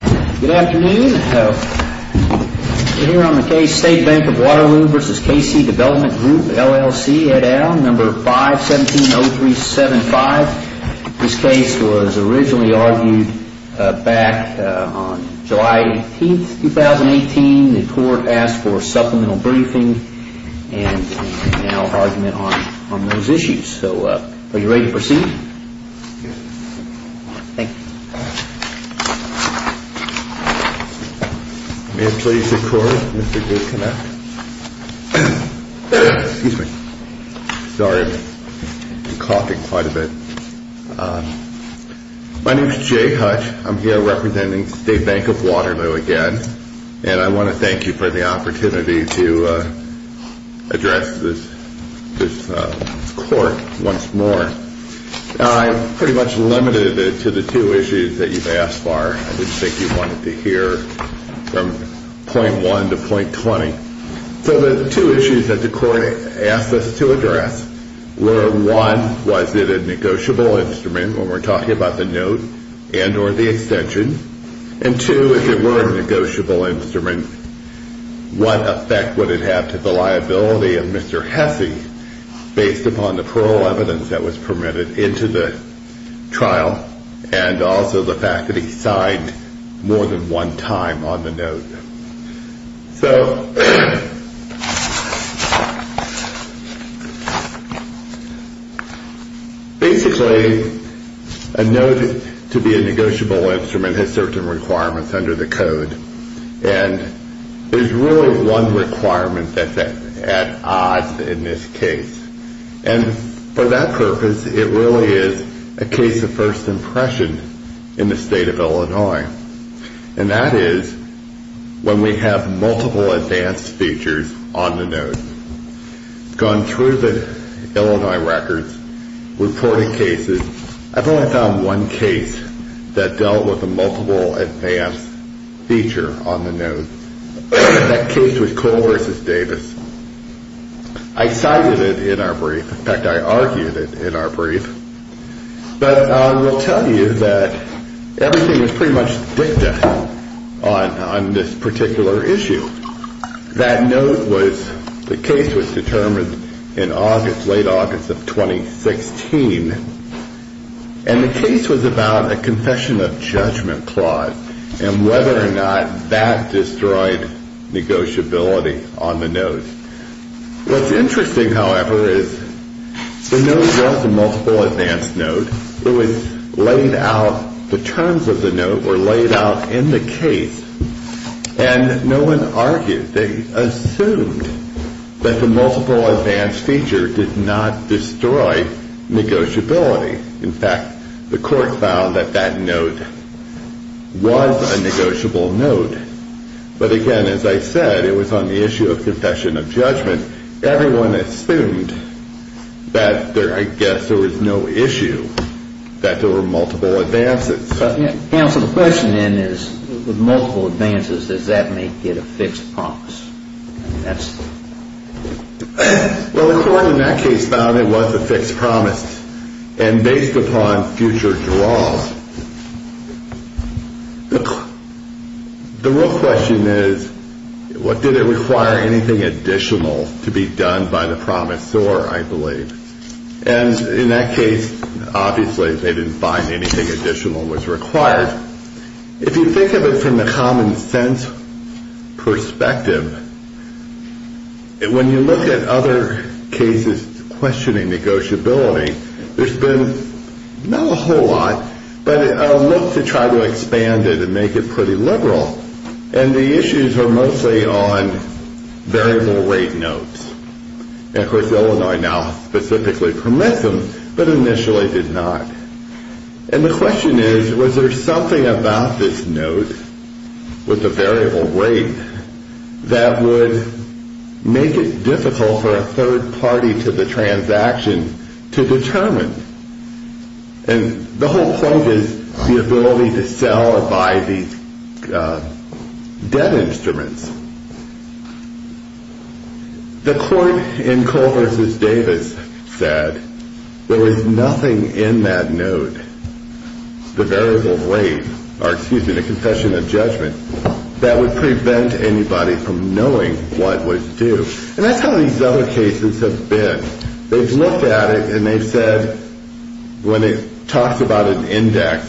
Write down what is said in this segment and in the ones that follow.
Good afternoon. We're here on the case State Bank of Waterloo v. K.C. Development Group, LLC, Ed Allen, No. 5-170375. This case was originally argued back on July 18, 2018. The court asked for a supplemental briefing and now argument on those issues. So are you ready to proceed? Yes. Thank you. May it please the Court, Mr. Goodkin. Excuse me. Sorry, I'm coughing quite a bit. My name is Jay Hutch. I'm here representing State Bank of Waterloo again. And I want to thank you for the opportunity to address this court once more. I'm pretty much limited to the two issues that you've asked for. I didn't think you wanted to hear from point one to point twenty. So the two issues that the court asked us to address were, one, was it a negotiable instrument when we're talking about the note and or the extension? And two, if it were a negotiable instrument, what effect would it have to the liability of Mr. Hesse based upon the parole evidence that was permitted into the trial? And also the fact that he signed more than one time on the note. So basically, a note to be a negotiable instrument has certain requirements under the code. And there's really one requirement that's at odds in this case. And for that purpose, it really is a case of first impression in the state of Illinois. And that is when we have multiple advanced features on the note. I've gone through the Illinois records, reported cases. I've only found one case that dealt with a multiple advanced feature on the note. That case was Cole v. Davis. I cited it in our brief. In fact, I argued it in our brief. But I will tell you that everything was pretty much dicta on this particular issue. That note was, the case was determined in August, late August of 2016. And the case was about a confession of judgment clause and whether or not that destroyed negotiability on the note. What's interesting, however, is the note was a multiple advanced note. It was laid out, the terms of the note were laid out in the case. And no one argued, they assumed that the multiple advanced feature did not destroy negotiability. In fact, the court found that that note was a negotiable note. But again, as I said, it was on the issue of confession of judgment. Everyone assumed that there, I guess, there was no issue that there were multiple advances. Counsel, the question then is, with multiple advances, does that make it a fixed promise? I mean, that's. Well, the court in that case found it was a fixed promise. And based upon future draws, the real question is, did it require anything additional to be done by the promisor, I believe. And in that case, obviously, they didn't find anything additional was required. If you think of it from the common sense perspective, when you look at other cases questioning negotiability, there's been not a whole lot, but a look to try to expand it and make it pretty liberal. And the issues are mostly on variable rate notes. And of course, Illinois now specifically permits them, but initially did not. And the question is, was there something about this note with the variable rate that would make it difficult for a third party to the transaction to determine? And the whole point is the ability to sell or buy these dead instruments. The court in Cole versus Davis said there was nothing in that note, the variable rate, or excuse me, the confession of judgment that would prevent anybody from knowing what was due. And that's how these other cases have been. They've looked at it, and they've said when it talks about an index,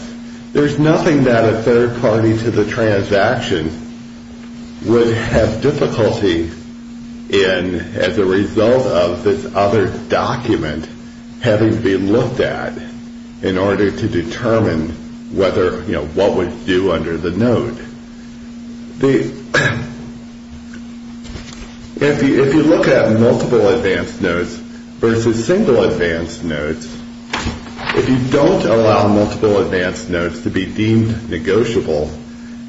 there's nothing that a third party to the transaction would have difficulty in as a result of this other document having to be looked at in order to determine what was due under the note. If you look at multiple advance notes versus single advance notes, if you don't allow multiple advance notes to be deemed negotiable,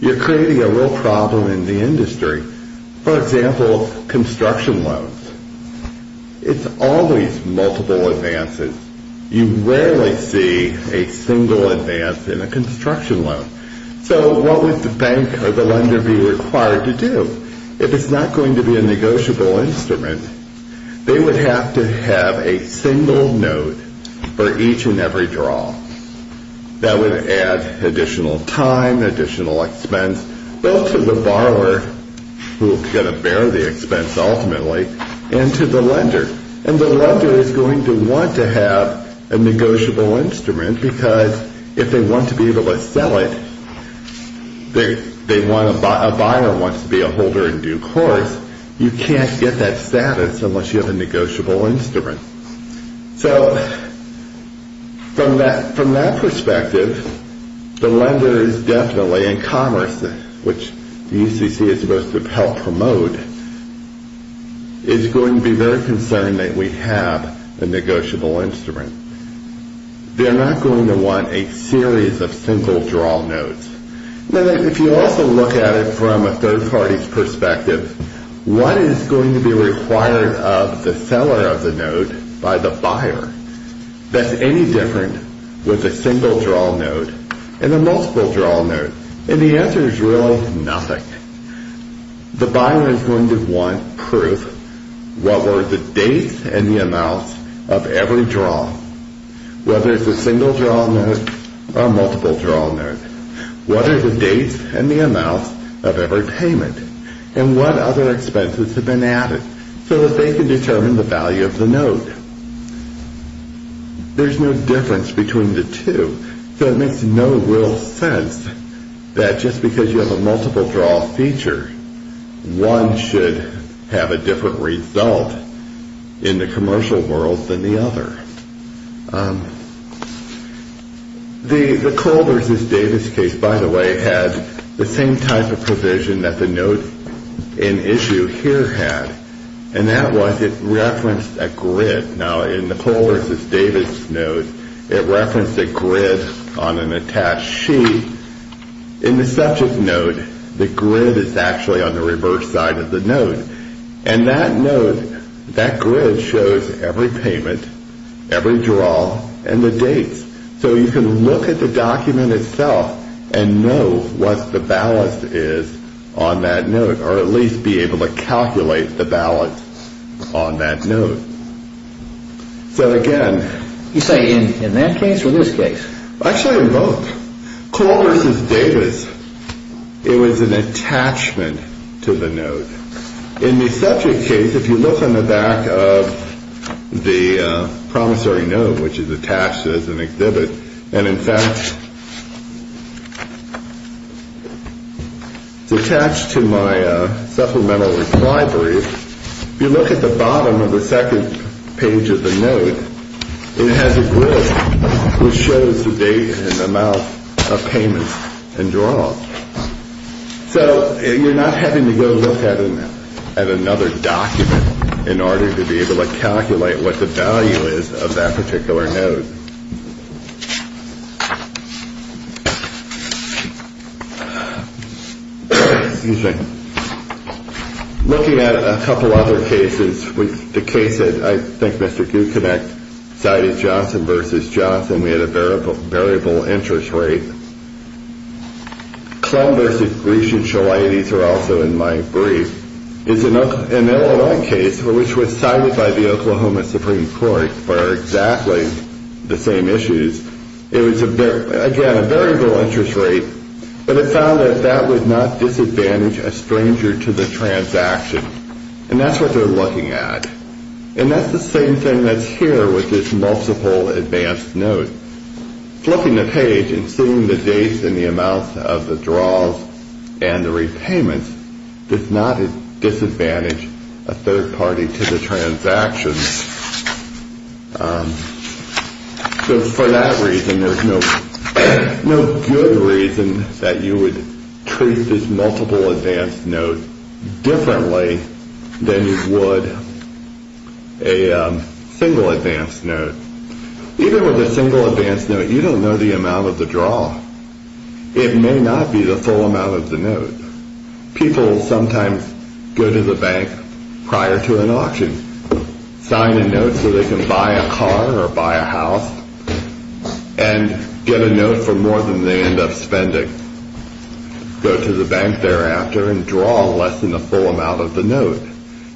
you're creating a real problem in the industry. For example, construction loans. It's always multiple advances. You rarely see a single advance in a construction loan. So what would the bank or the lender be required to do? If it's not going to be a negotiable instrument, they would have to have a single note for each and every draw. That would add additional time, additional expense, both to the borrower, who is going to bear the expense ultimately, and to the lender. And the lender is going to want to have a negotiable instrument because if they want to be able to sell it, a buyer wants to be a holder in due course. You can't get that status unless you have a negotiable instrument. So from that perspective, the lender is definitely in commerce, which the UCC is supposed to help promote, is going to be very concerned that we have a negotiable instrument. They're not going to want a series of single draw notes. Now, if you also look at it from a third party's perspective, what is going to be required of the seller of the note by the buyer that's any different with a single draw note and a multiple draw note? And the answer is really nothing. The buyer is going to want proof what were the dates and the amounts of every draw, whether it's a single draw note or a multiple draw note. What are the dates and the amounts of every payment? And what other expenses have been added so that they can determine the value of the note? There's no difference between the two, so it makes no real sense that just because you have a multiple draw feature, one should have a different result in the commercial world than the other. The Cole v. Davis case, by the way, had the same type of provision that the note in issue here had, and that was it referenced a grid. Now, in the Cole v. Davis note, it referenced a grid on an attached sheet. In the subject note, the grid is actually on the reverse side of the note. And that note, that grid shows every payment, every draw, and the dates. So you can look at the document itself and know what the balance is on that note, or at least be able to calculate the balance on that note. So, again... You say in that case or this case? Actually, in both. Cole v. Davis, it was an attachment to the note. In the subject case, if you look on the back of the promissory note, which is attached as an exhibit, and in fact... It's attached to my supplemental reply brief. If you look at the bottom of the second page of the note, it has a grid, which shows the date and the amount of payments and draws. So you're not having to go look at another document in order to be able to calculate what the value is of that particular note. Excuse me. Looking at a couple other cases, the case that I think Mr. Gucinec cited, Johnson v. Johnson, we had a variable interest rate. Clem v. Grecian-Shalaites are also in my brief. It's an LOI case, which was cited by the Oklahoma Supreme Court for exactly the same issues. It was, again, a variable interest rate, but it found that that would not disadvantage a stranger to the transaction. And that's what they're looking at. And that's the same thing that's here with this multiple advanced note. So flipping the page and seeing the dates and the amounts of the draws and the repayments does not disadvantage a third party to the transaction. So for that reason, there's no good reason that you would treat this multiple advanced note differently than you would a single advanced note. Even with a single advanced note, you don't know the amount of the draw. It may not be the full amount of the note. People sometimes go to the bank prior to an auction, sign a note so they can buy a car or buy a house, and get a note for more than they end up spending. Go to the bank thereafter and draw less than the full amount of the note.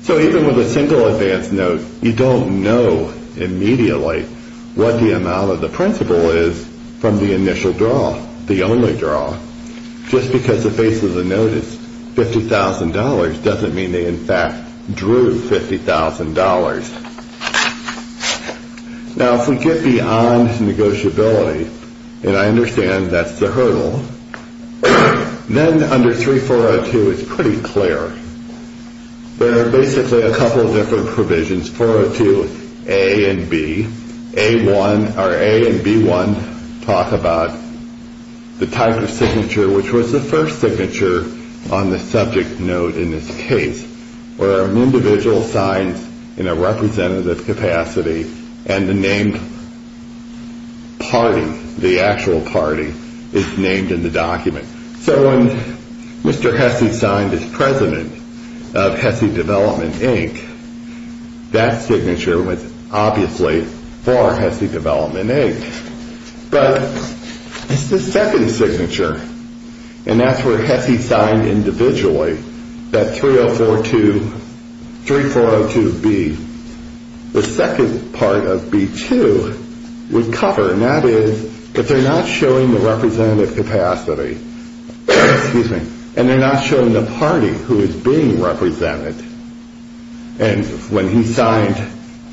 So even with a single advanced note, you don't know immediately what the amount of the principal is from the initial draw, the only draw. Just because the face of the note is $50,000 doesn't mean they, in fact, drew $50,000. Now, if we get beyond negotiability, and I understand that's the hurdle, then under 3402, it's pretty clear. There are basically a couple of different provisions, 402A and B. A1, or A and B1, talk about the type of signature, which was the first signature on the subject note in this case, where an individual signs in a representative capacity, and the named party, the actual party, is named in the document. So when Mr. Hesse signed as president of Hesse Development, Inc., that signature was obviously for Hesse Development, Inc. But it's the second signature, and that's where Hesse signed individually, that 3042, 3402B. The second part of B2 would cover, and that is, if they're not showing the representative capacity, and they're not showing the party who is being represented, and when he signed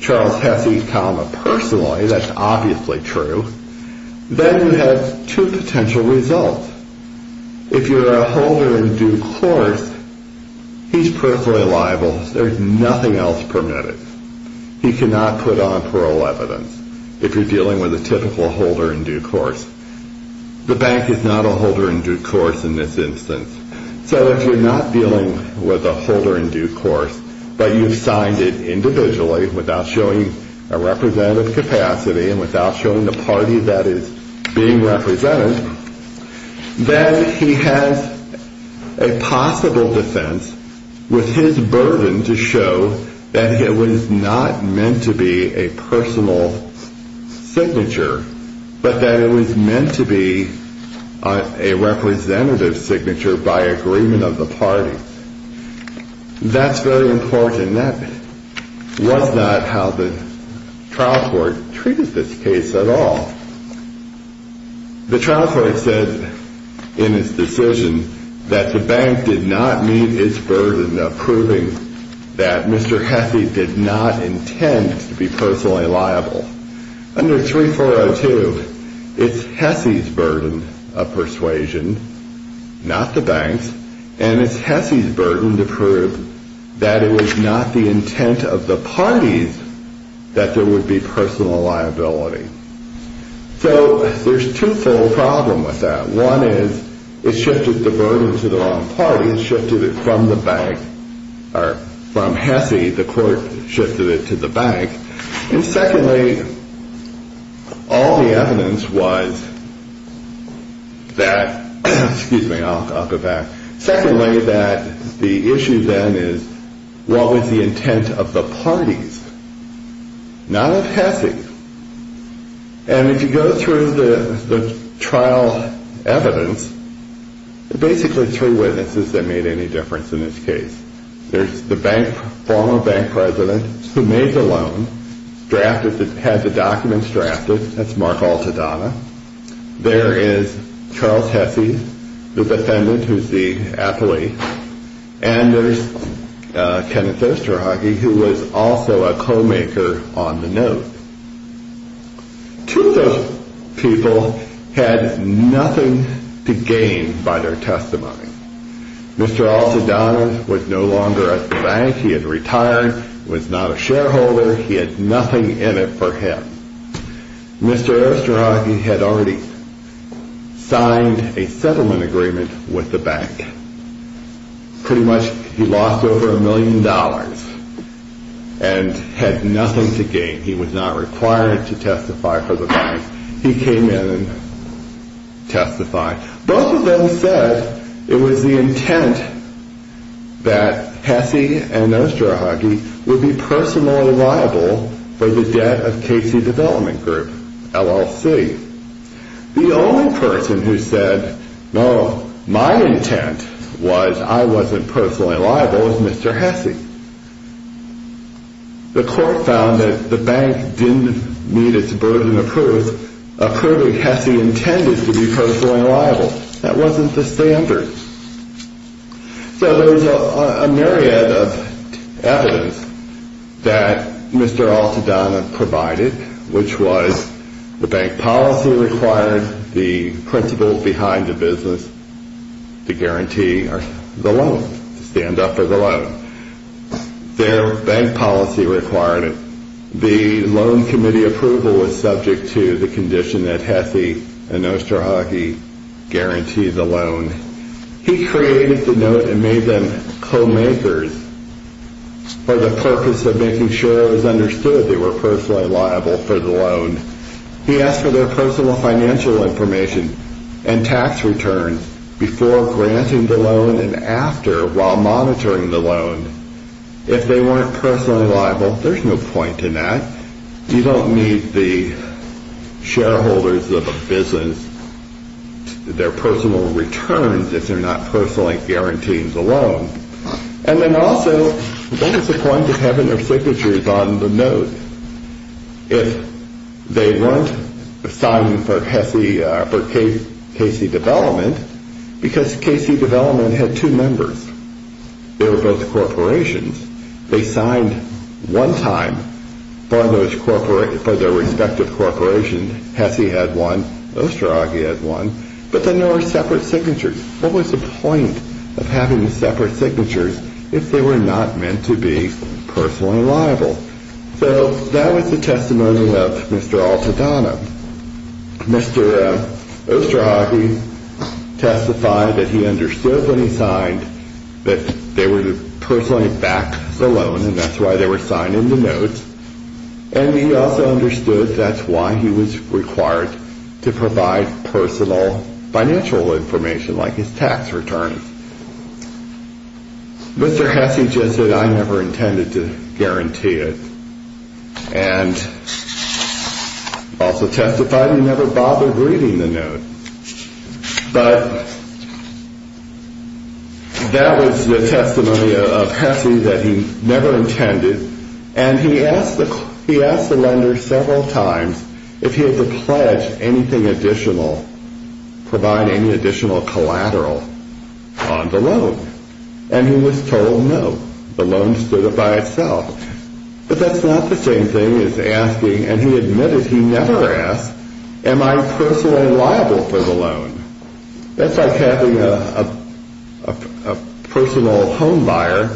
Charles Hesse, personally, that's obviously true, then you have two potential results. If you're a holder in due course, he's perfectly liable. There's nothing else permitted. He cannot put on parole evidence if you're dealing with a typical holder in due course. The bank is not a holder in due course in this instance. So if you're not dealing with a holder in due course, but you've signed it individually without showing a representative capacity and without showing the party that is being represented, then he has a possible defense with his burden to show that it was not meant to be a personal signature, but that it was meant to be a representative signature by agreement of the party. That's very important. That was not how the trial court treated this case at all. The trial court said in its decision that the bank did not meet its burden of proving that Mr. Hesse did not intend to be personally liable. Under 3402, it's Hesse's burden of persuasion, not the bank's, and it's Hesse's burden to prove that it was not the intent of the parties that there would be personal liability. So there's twofold problem with that. One is it shifted the burden to the wrong party. It shifted it from the bank, or from Hesse, the court shifted it to the bank. And secondly, all the evidence was that, excuse me, I'll go back. Secondly, that the issue then is what was the intent of the parties, not of Hesse. And if you go through the trial evidence, there are basically three witnesses that made any difference in this case. There's the former bank president who made the loan, had the documents drafted. That's Mark Altadonna. There is Charles Hesse, the defendant, who's the athlete. And there's Kenneth Osterhage, who was also a co-maker on the note. Two of those people had nothing to gain by their testimony. Mr. Altadonna was no longer at the bank. He had retired, was not a shareholder. He had nothing in it for him. Mr. Osterhage had already signed a settlement agreement with the bank. Pretty much he lost over a million dollars and had nothing to gain. He was not required to testify for the bank. He came in and testified. Both of them said it was the intent that Hesse and Osterhage would be personally liable for the debt of Casey Development Group, LLC. The only person who said, no, my intent was I wasn't personally liable was Mr. Hesse. The court found that the bank didn't meet its burden of proving Hesse intended to be personally liable. That wasn't the standard. So there was a myriad of evidence that Mr. Altadonna provided, which was the bank policy required the principal behind the business to guarantee the loan, to stand up for the loan. Their bank policy required it. The loan committee approval was subject to the condition that Hesse and Osterhage guarantee the loan. He created the note and made them co-makers for the purpose of making sure it was understood they were personally liable for the loan. He asked for their personal financial information and tax returns before granting the loan and after while monitoring the loan. If they weren't personally liable, there's no point in that. You don't need the shareholders of a business, their personal returns if they're not personally guaranteeing the loan. And then also, what is the point of having their signatures on the note if they weren't signing for Casey Development because Casey Development had two members. They were both corporations. They signed one time for their respective corporation. Hesse had one. Osterhage had one. But then there were separate signatures. What was the point of having separate signatures if they were not meant to be personally liable? So that was the testimony of Mr. Altadonna. Mr. Osterhage testified that he understood when he signed that they were personally backed the loan and that's why they were signed in the note. And he also understood that's why he was required to provide personal financial information like his tax returns. Mr. Hesse just said I never intended to guarantee it. And also testified he never bothered reading the note. But that was the testimony of Hesse that he never intended. And he asked the lender several times if he had to pledge anything additional, provide any additional collateral on the loan. And he was told no. The loan stood up by itself. But that's not the same thing as asking, and he admitted he never asked, am I personally liable for the loan? That's like having a personal home buyer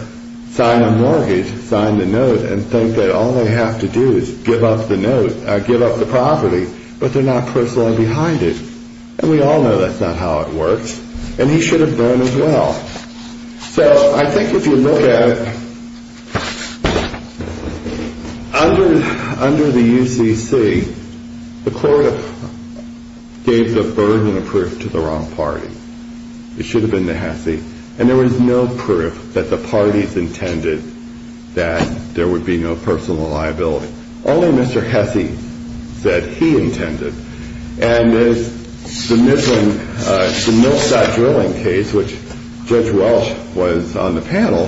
sign a mortgage, sign the note, and think that all they have to do is give up the note, give up the property. But they're not personally behind it. And we all know that's not how it works. And he should have known as well. So I think if you look at it, under the UCC, the court gave the burden of proof to the wrong party. It should have been the Hesse. And there was no proof that the parties intended that there would be no personal liability. Only Mr. Hesse said he intended. And there's the Millside drilling case, which Judge Welch was on the panel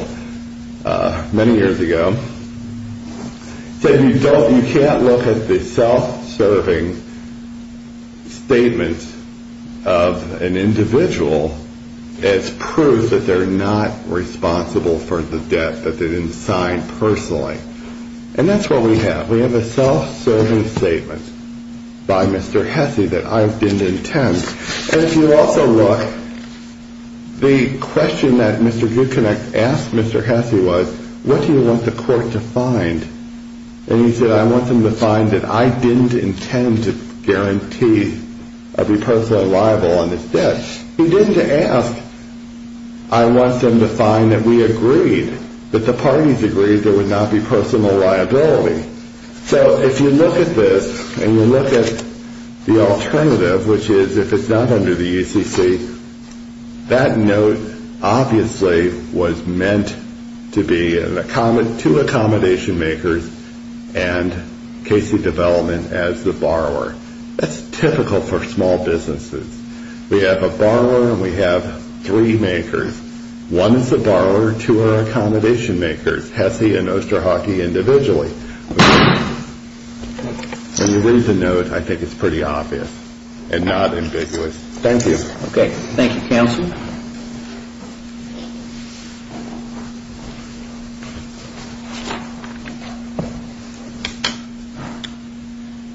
many years ago. He said you can't look at the self-serving statements of an individual as proof that they're not responsible for the debt that they didn't sign personally. And that's what we have. We have a self-serving statement by Mr. Hesse that I didn't intend. And if you also look, the question that Mr. Goodconnect asked Mr. Hesse was, what do you want the court to find? And he said I want them to find that I didn't intend to guarantee I'd be personally liable on this debt. He didn't ask, I want them to find that we agreed, that the parties agreed there would not be personal liability. So if you look at this and you look at the alternative, which is if it's not under the ECC, that note obviously was meant to be to accommodation makers and Casey Development as the borrower. That's typical for small businesses. We have a borrower and we have three makers. One is the borrower, two are accommodation makers, Hesse and Osterhockey individually. When you read the note, I think it's pretty obvious and not ambiguous. Thank you. Okay. Thank you, counsel.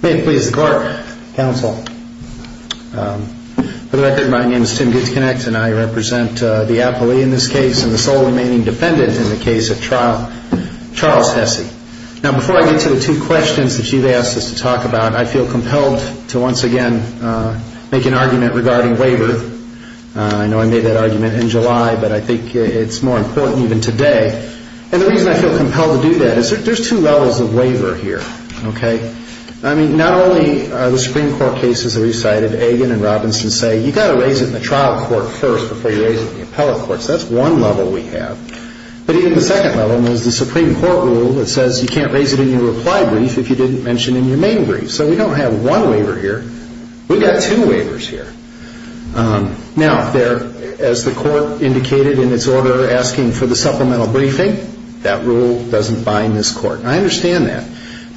May it please the court, counsel. For the record, my name is Tim Goodconnect and I represent the appellee in this case and the sole remaining defendant in the case of Charles Hesse. Now, before I get to the two questions that you've asked us to talk about, I feel compelled to once again make an argument regarding waiver. I know I made that argument in July, but I think it's more important even today. And the reason I feel compelled to do that is there's two levels of waiver here. Okay. I mean, not only are the Supreme Court cases that we've cited, Agin and Robinson say you've got to raise it in the trial court first before you raise it in the appellate court. So that's one level we have. But even the second level is the Supreme Court rule that says you can't raise it in your reply brief if you didn't mention it in your main brief. So we don't have one waiver here. We've got two waivers here. Now, as the court indicated in its order asking for the supplemental briefing, that rule doesn't bind this court. I understand that.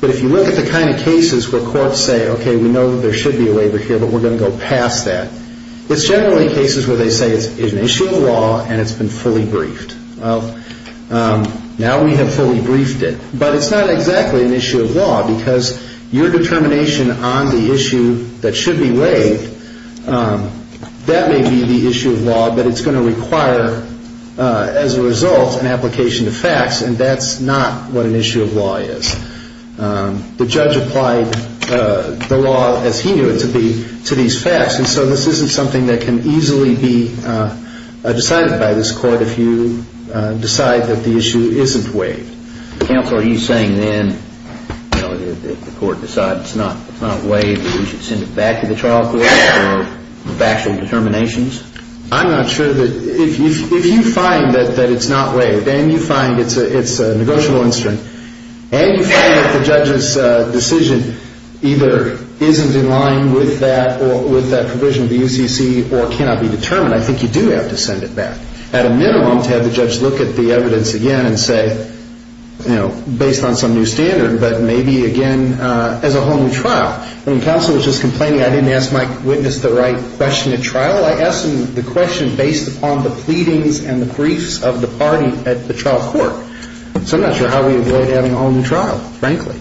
But if you look at the kind of cases where courts say, okay, we know there should be a waiver here, but we're going to go past that, it's generally cases where they say it's an issue of law and it's been fully briefed. Well, now we have fully briefed it. But it's not exactly an issue of law because your determination on the issue that should be waived, that may be the issue of law, but it's going to require, as a result, an application of facts, and that's not what an issue of law is. The judge applied the law as he knew it to these facts. And so this isn't something that can easily be decided by this court if you decide that the issue isn't waived. Counsel, are you saying then, you know, if the court decides it's not waived, we should send it back to the trial court for factual determinations? I'm not sure that if you find that it's not waived and you find it's a negotiable incident and you find that the judge's decision either isn't in line with that provision of the UCC or cannot be determined, I think you do have to send it back. At a minimum, to have the judge look at the evidence again and say, you know, based on some new standard, but maybe again as a whole new trial. I mean, counsel was just complaining I didn't ask my witness the right question at trial. I asked him the question based upon the pleadings and the briefs of the party at the trial court. So I'm not sure how we avoid having a whole new trial, frankly.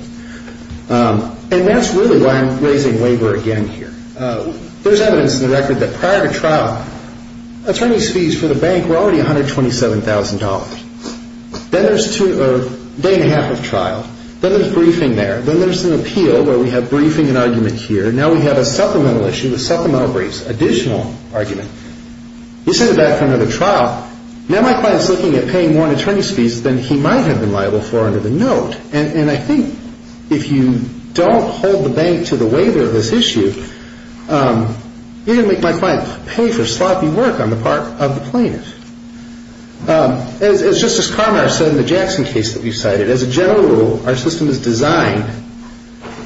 And that's really why I'm raising labor again here. There's evidence in the record that prior to trial, attorney's fees for the bank were already $127,000. Then there's a day and a half of trial. Then there's briefing there. Then there's an appeal where we have briefing and argument here. Now we have a supplemental issue with supplemental briefs, additional argument. You send it back for another trial. Now my client is looking at paying more in attorney's fees than he might have been liable for under the note. And I think if you don't hold the bank to the waiver of this issue, you're going to make my client pay for sloppy work on the part of the plaintiff. As Justice Carminer said in the Jackson case that we cited, as a general rule, our system is designed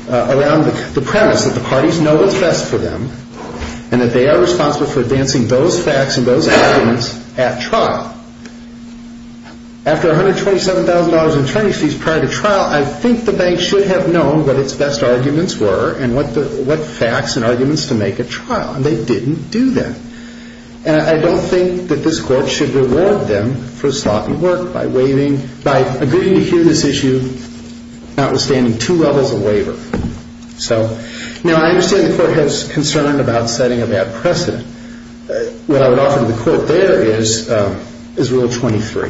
around the premise that the parties know what's best for them and that they are responsible for advancing those facts and those arguments at trial. After $127,000 in attorney's fees prior to trial, I think the bank should have known what its best arguments were and what facts and arguments to make at trial. And they didn't do that. And I don't think that this Court should reward them for sloppy work Now I understand the Court has concern about setting a bad precedent. What I would offer to the Court there is Rule 23.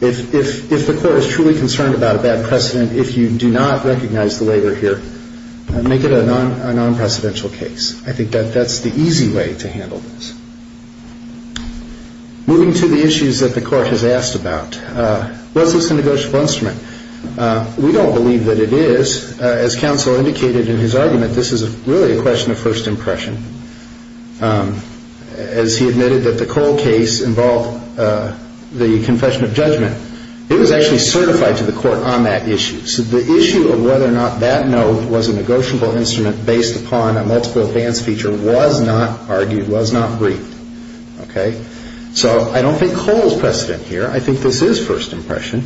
If the Court is truly concerned about a bad precedent, if you do not recognize the waiver here, make it a non-precedential case. I think that that's the easy way to handle this. Moving to the issues that the Court has asked about. What's this a negotiable instrument? We don't believe that it is. As counsel indicated in his argument, this is really a question of first impression. As he admitted that the Cole case involved the confession of judgment, it was actually certified to the Court on that issue. So the issue of whether or not that note was a negotiable instrument based upon a multiple advance feature was not argued, was not briefed. So I don't think Cole's precedent here. I think this is first impression.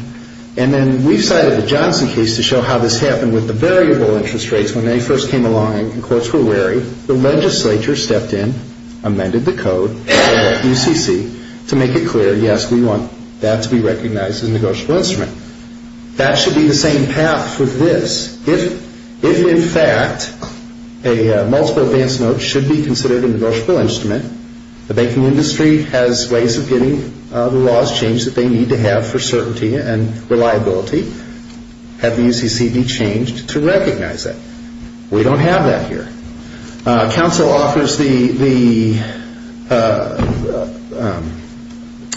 And then we've cited the Johnson case to show how this happened with the variable interest rates when they first came along and courts were wary. The legislature stepped in, amended the code at UCC to make it clear, yes, we want that to be recognized as a negotiable instrument. That should be the same path for this. If, in fact, a multiple advance note should be considered a negotiable instrument, the banking industry has ways of getting the laws changed that they need to have for certainty and reliability. Have the UCC be changed to recognize that. We don't have that here. Counsel offers the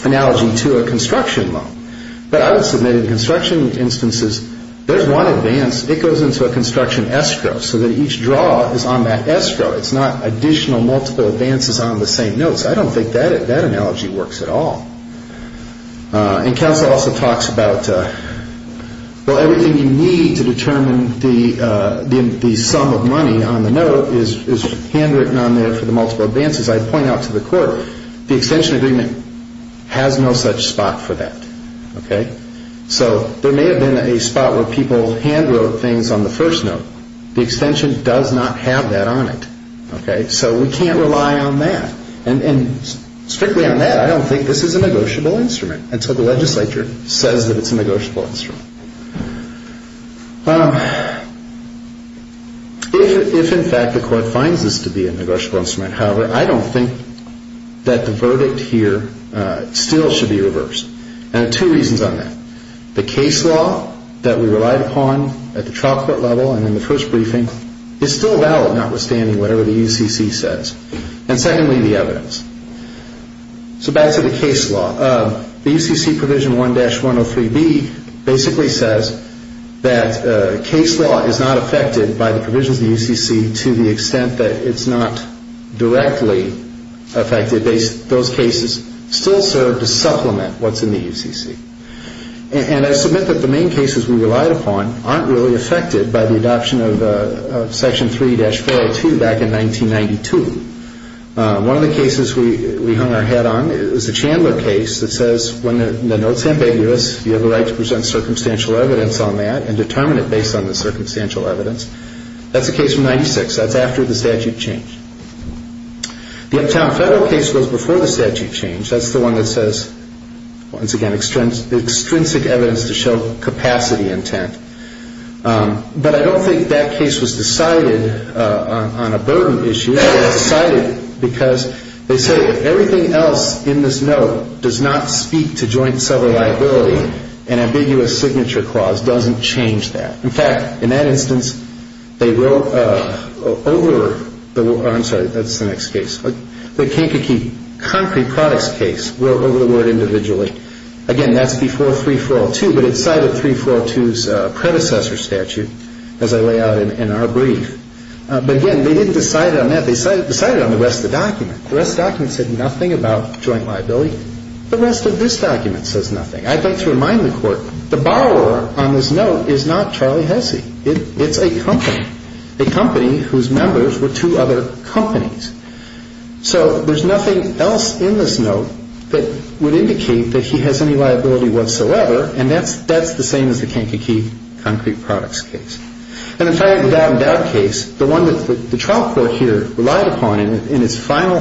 analogy to a construction loan. But I would submit in construction instances, there's one advance, it goes into a construction escrow so that each draw is on that escrow. It's not additional multiple advances on the same notes. I don't think that analogy works at all. And counsel also talks about, well, everything you need to determine the sum of money on the note is handwritten on there for the multiple advances. I point out to the court, the extension agreement has no such spot for that. So there may have been a spot where people hand wrote things on the first note. The extension does not have that on it. So we can't rely on that. And strictly on that, I don't think this is a negotiable instrument until the legislature says that it's a negotiable instrument. If, in fact, the court finds this to be a negotiable instrument, however, I don't think that the verdict here still should be reversed. And there are two reasons on that. One, the case law that we relied upon at the trial court level and in the first briefing is still valid notwithstanding whatever the UCC says. And secondly, the evidence. So back to the case law. The UCC Provision 1-103B basically says that case law is not affected by the provisions of the UCC to the extent that it's not directly affected. Those cases still serve to supplement what's in the UCC. And I submit that the main cases we relied upon aren't really affected by the adoption of Section 3-402 back in 1992. One of the cases we hung our head on is the Chandler case that says when the note's ambiguous, you have a right to present circumstantial evidence on that and determine it based on the circumstantial evidence. That's a case from 1996. That's after the statute changed. The Uptown Federal case goes before the statute change. That's the one that says, once again, extrinsic evidence to show capacity intent. But I don't think that case was decided on a burden issue. It was decided because they say everything else in this note does not speak to joint seller liability. An ambiguous signature clause doesn't change that. In fact, in that instance, they wrote over the word. I'm sorry, that's the next case. The Kankakee Concrete Products case wrote over the word individually. Again, that's before 3-402, but it cited 3-402's predecessor statute, as I lay out in our brief. But, again, they didn't decide it on that. They decided it on the rest of the document. The rest of the document said nothing about joint liability. The rest of this document says nothing. I'd like to remind the Court, the borrower on this note is not Charlie Hessey. It's a company, a company whose members were two other companies. So there's nothing else in this note that would indicate that he has any liability whatsoever, and that's the same as the Kankakee Concrete Products case. In the doubt and doubt case, the one that the trial court here relied upon in its final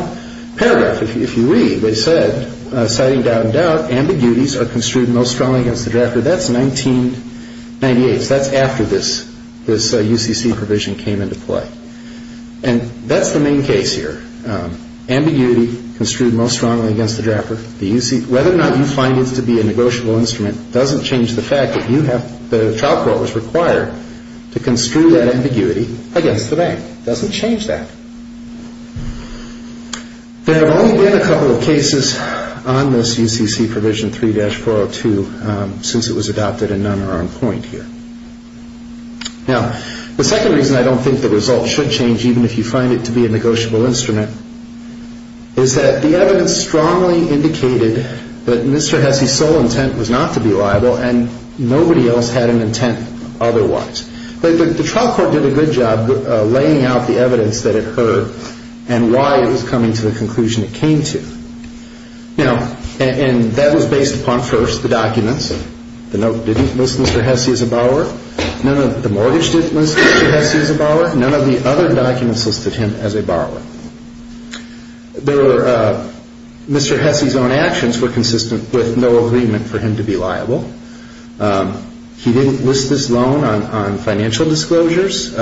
paragraph, if you read, they said, citing doubt and doubt, ambiguities are construed most strongly against the drafter. That's 1998. So that's after this UCC provision came into play. And that's the main case here. Ambiguity construed most strongly against the drafter. Whether or not you find this to be a negotiable instrument doesn't change the fact that you have, the trial court was required to construe that ambiguity against the bank. It doesn't change that. There have only been a couple of cases on this UCC provision 3-402 since it was adopted, and none are on point here. Now, the second reason I don't think the result should change, even if you find it to be a negotiable instrument, is that the evidence strongly indicated that Mr. Hessey's sole intent was not to be liable, and nobody else had an intent otherwise. The trial court did a good job laying out the evidence that it heard and why it was coming to the conclusion it came to. And that was based upon, first, the documents. The note didn't list Mr. Hessey as a borrower. The mortgage didn't list Mr. Hessey as a borrower. None of the other documents listed him as a borrower. Mr. Hessey's own actions were consistent with no agreement for him to be liable. He didn't list this loan on financial disclosures.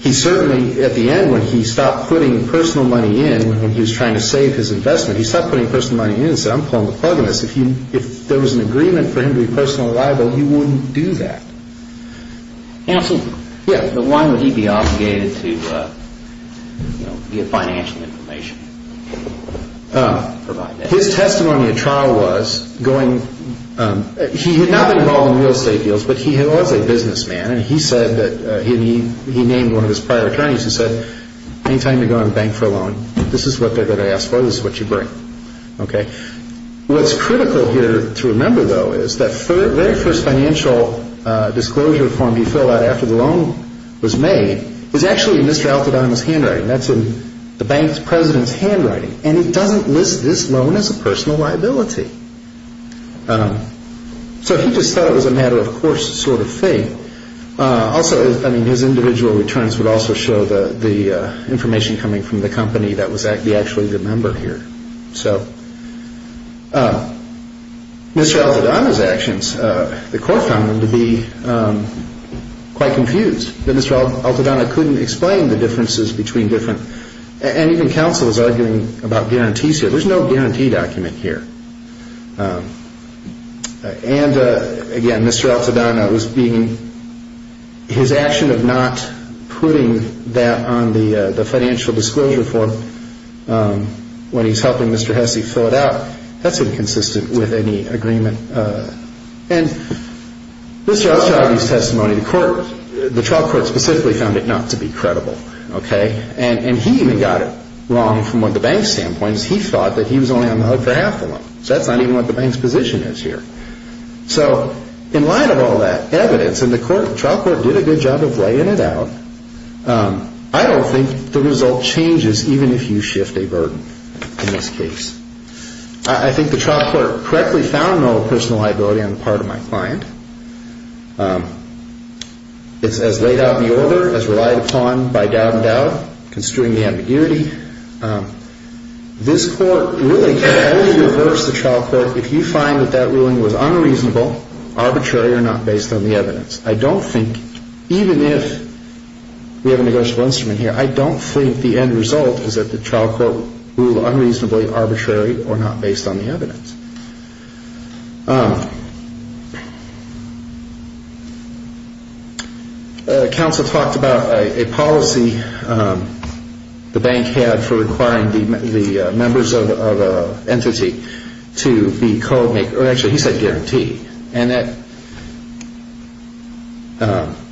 He certainly, at the end, when he stopped putting personal money in, when he was trying to save his investment, he stopped putting personal money in and said, I'm pulling the plug on this. If there was an agreement for him to be personally liable, he wouldn't do that. Counsel, why would he be obligated to get financial information? His testimony at trial was going – he had not been involved in real estate deals, but he was a businessman, and he said that – he named one of his prior attorneys and said, anytime you're going to the bank for a loan, this is what they're going to ask for, this is what you bring. What's critical here to remember, though, is that very first financial disclosure form he filled out after the loan was made was actually in Mr. Altadonna's handwriting. That's in the bank's president's handwriting. And he doesn't list this loan as a personal liability. So he just thought it was a matter-of-course sort of thing. Also, I mean, his individual returns would also show the information coming from the company that was actually the member here. So Mr. Altadonna's actions, the court found them to be quite confused. Mr. Altadonna couldn't explain the differences between different – and even counsel was arguing about guarantees here. There's no guarantee document here. And, again, Mr. Altadonna was being – his action of not putting that on the financial disclosure form when he's helping Mr. Hesse fill it out, that's inconsistent with any agreement. And Mr. Altadonna's testimony, the trial court specifically found it not to be credible. And he even got it wrong from what the bank's standpoint is. He thought that he was only on the hook for half the loan. So that's not even what the bank's position is here. So in light of all that evidence, and the trial court did a good job of laying it out, I don't think the result changes even if you shift a burden in this case. I think the trial court correctly found no personal liability on the part of my client. It's as laid out in the order, as relied upon by doubt and doubt, construing the ambiguity. This court really can only reverse the trial court if you find that that ruling was unreasonable, arbitrary, or not based on the evidence. I don't think, even if we have a negotiable instrument here, I don't think the end result is that the trial court ruled unreasonably, arbitrary, or not based on the evidence. Counsel talked about a policy the bank had for requiring the members of an entity to be co-maker. Actually, he said guarantee. And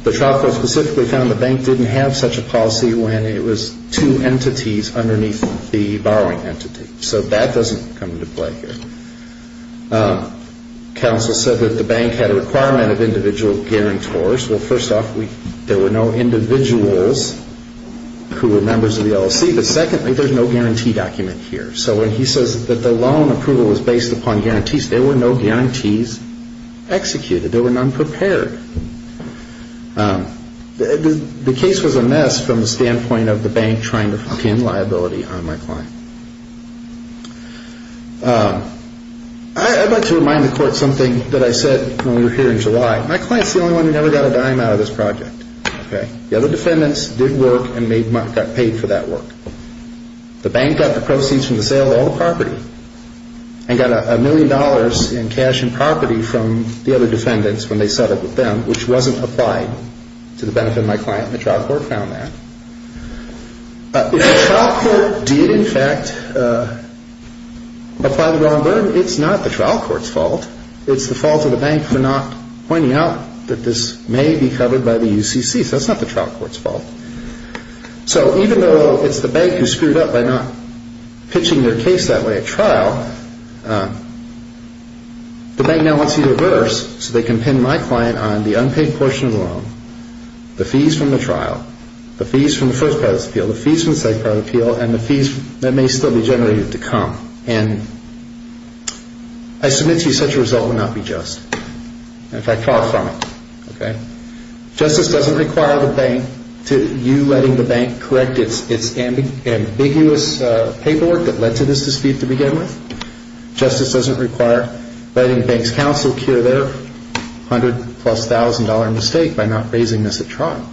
the trial court specifically found the bank didn't have such a policy when it was two entities underneath the borrowing entity. So that doesn't come into play here. Counsel said that the bank had a requirement of individual guarantors. Well, first off, there were no individuals who were members of the LLC. But secondly, there's no guarantee document here. So when he says that the loan approval was based upon guarantees, there were no guarantees executed. There were none prepared. The case was a mess from the standpoint of the bank trying to fork in liability on my client. I'd like to remind the court something that I said when we were here in July. My client's the only one who never got a dime out of this project. The other defendants did work and got paid for that work. The bank got the proceeds from the sale of all the property and got a million dollars in cash and property from the other defendants when they set up with them, which wasn't applied to the benefit of my client, and the trial court found that. If the trial court did, in fact, apply the loan burden, it's not the trial court's fault. It's the fault of the bank for not pointing out that this may be covered by the UCC. So it's not the trial court's fault. So even though it's the bank who screwed up by not pitching their case that way at trial, the bank now wants to reverse so they can pin my client on the unpaid portion of the loan, the fees from the trial, the fees from the first part of this appeal, the fees from the second part of the appeal, and the fees that may still be generated to come. And I submit to you such a result would not be just. In fact, far from it. Justice doesn't require you letting the bank correct its ambiguous paperwork that led to this dispute to begin with. Justice doesn't require letting the bank's counsel cure their hundred-plus-thousand-dollar mistake by not raising this at trial.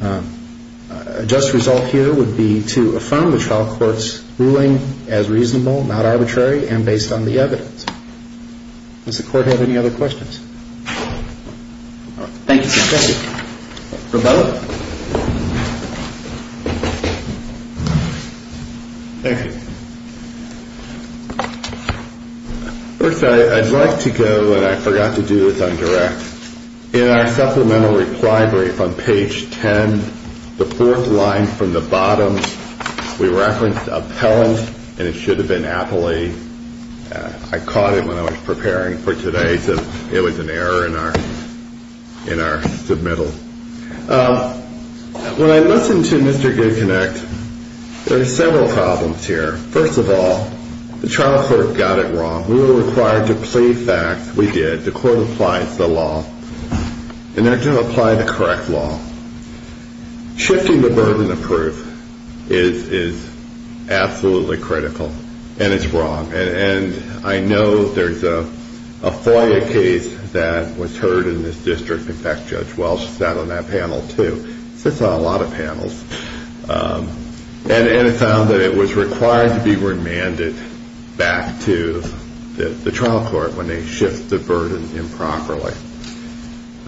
A just result here would be to affirm the trial court's ruling as reasonable, not arbitrary, and based on the evidence. Does the court have any other questions? All right. Thank you, counsel. Thank you. Rebella? Thank you. First, I'd like to go, and I forgot to do this on direct. In our supplemental reply brief on page 10, the fourth line from the bottom, we referenced appellant, and it should have been appellee. I caught it when I was preparing for today, so it was an error in our submittal. When I listen to Mr. Goodconnect, there are several problems here. First of all, the trial court got it wrong. We were required to plead facts. We did. The court applies the law, and they're going to apply the correct law. Shifting the burden of proof is absolutely critical, and it's wrong. And I know there's a FOIA case that was heard in this district. In fact, Judge Welch sat on that panel too. She sits on a lot of panels. And it found that it was required to be remanded back to the trial court when they shift the burden improperly.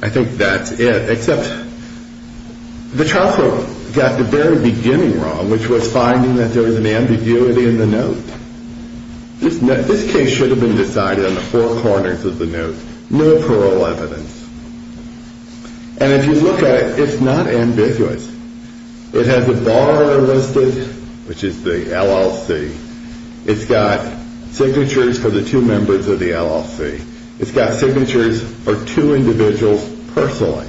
I think that's it, except the trial court got the very beginning wrong, which was finding that there was an ambiguity in the note. This case should have been decided on the four corners of the note, no parole evidence. And if you look at it, it's not ambiguous. It has a bar listed, which is the LLC. It's got signatures for two individuals personally.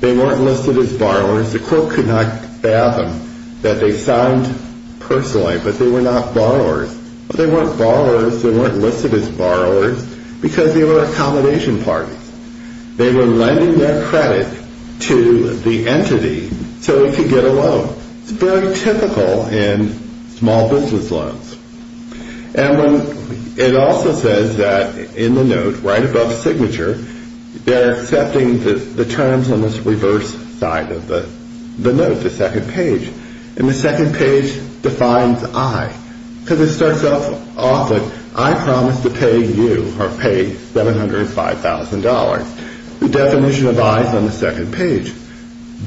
They weren't listed as borrowers. The court could not fathom that they signed personally, but they were not borrowers. They weren't borrowers. They weren't listed as borrowers because they were accommodation parties. They were lending their credit to the entity so it could get a loan. It's very typical in small business loans. And it also says that in the note right above signature, they're accepting the terms on this reverse side of the note, the second page. And the second page defines I. Because it starts off with, I promise to pay you or pay $705,000. The definition of I is on the second page.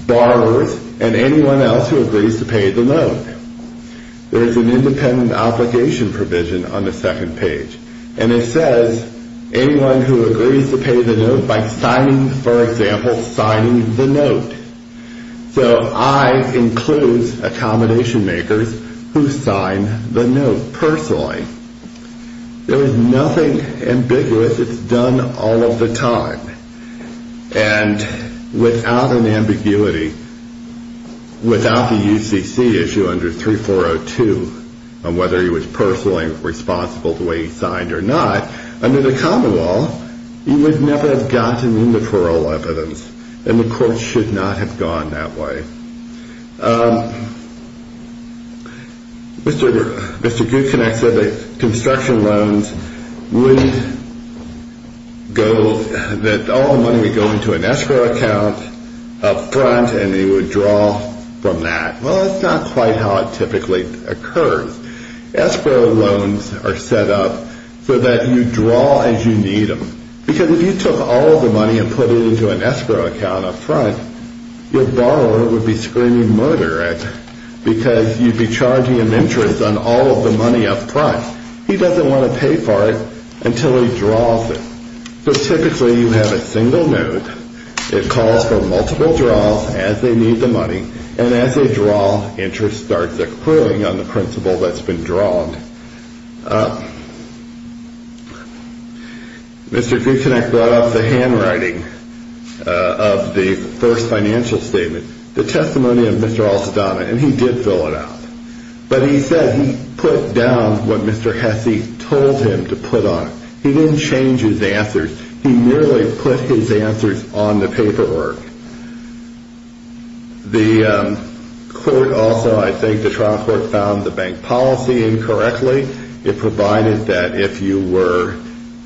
Borrowers and anyone else who agrees to pay the note. There's an independent application provision on the second page. And it says anyone who agrees to pay the note by signing, for example, signing the note. So I includes accommodation makers who sign the note personally. There is nothing ambiguous. It's done all of the time. And without an ambiguity, without the UCC issue under 3402, on whether he was personally responsible the way he signed or not, under the common law, he would never have gotten into parole evidence. And the court should not have gone that way. Mr. Gutknecht said that construction loans would go, that all the money would go into an escrow account up front and he would draw from that. Well, that's not quite how it typically occurs. Escrow loans are set up so that you draw as you need them. Because if you took all of the money and put it into an escrow account up front, your borrower would be screaming murder at you because you'd be charging an interest on all of the money up front. He doesn't want to pay for it until he draws it. So typically you have a single note. It calls for multiple draws as they need the money. And as they draw, interest starts accruing on the principal that's been drawn. Mr. Gutknecht brought up the handwriting of the first financial statement, the testimony of Mr. Alsadana, and he did fill it out. But he said he put down what Mr. Hesse told him to put on it. He didn't change his answers. He merely put his answers on the paperwork. The court also, I think the trial court, found the bank policy incorrect. It provided that if you were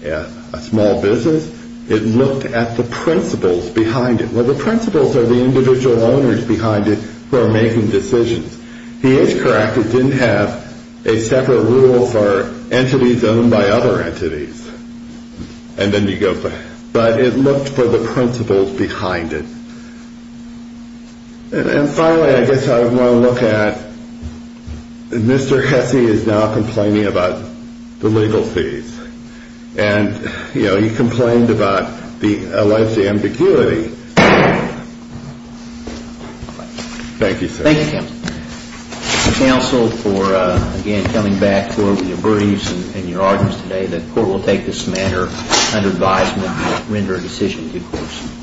a small business, it looked at the principles behind it. Well, the principles are the individual owners behind it who are making decisions. He is correct. It didn't have a separate rule for entities owned by other entities. But it looked for the principles behind it. And finally, I guess I want to look at Mr. Hesse is now complaining about the legal fees. And, you know, he complained about the alleged ambiguity. Thank you, sir. Thank you, counsel. Counsel, for again coming back for your briefs and your arguments today, the court will take this matter under advisement and render a decision to the courts.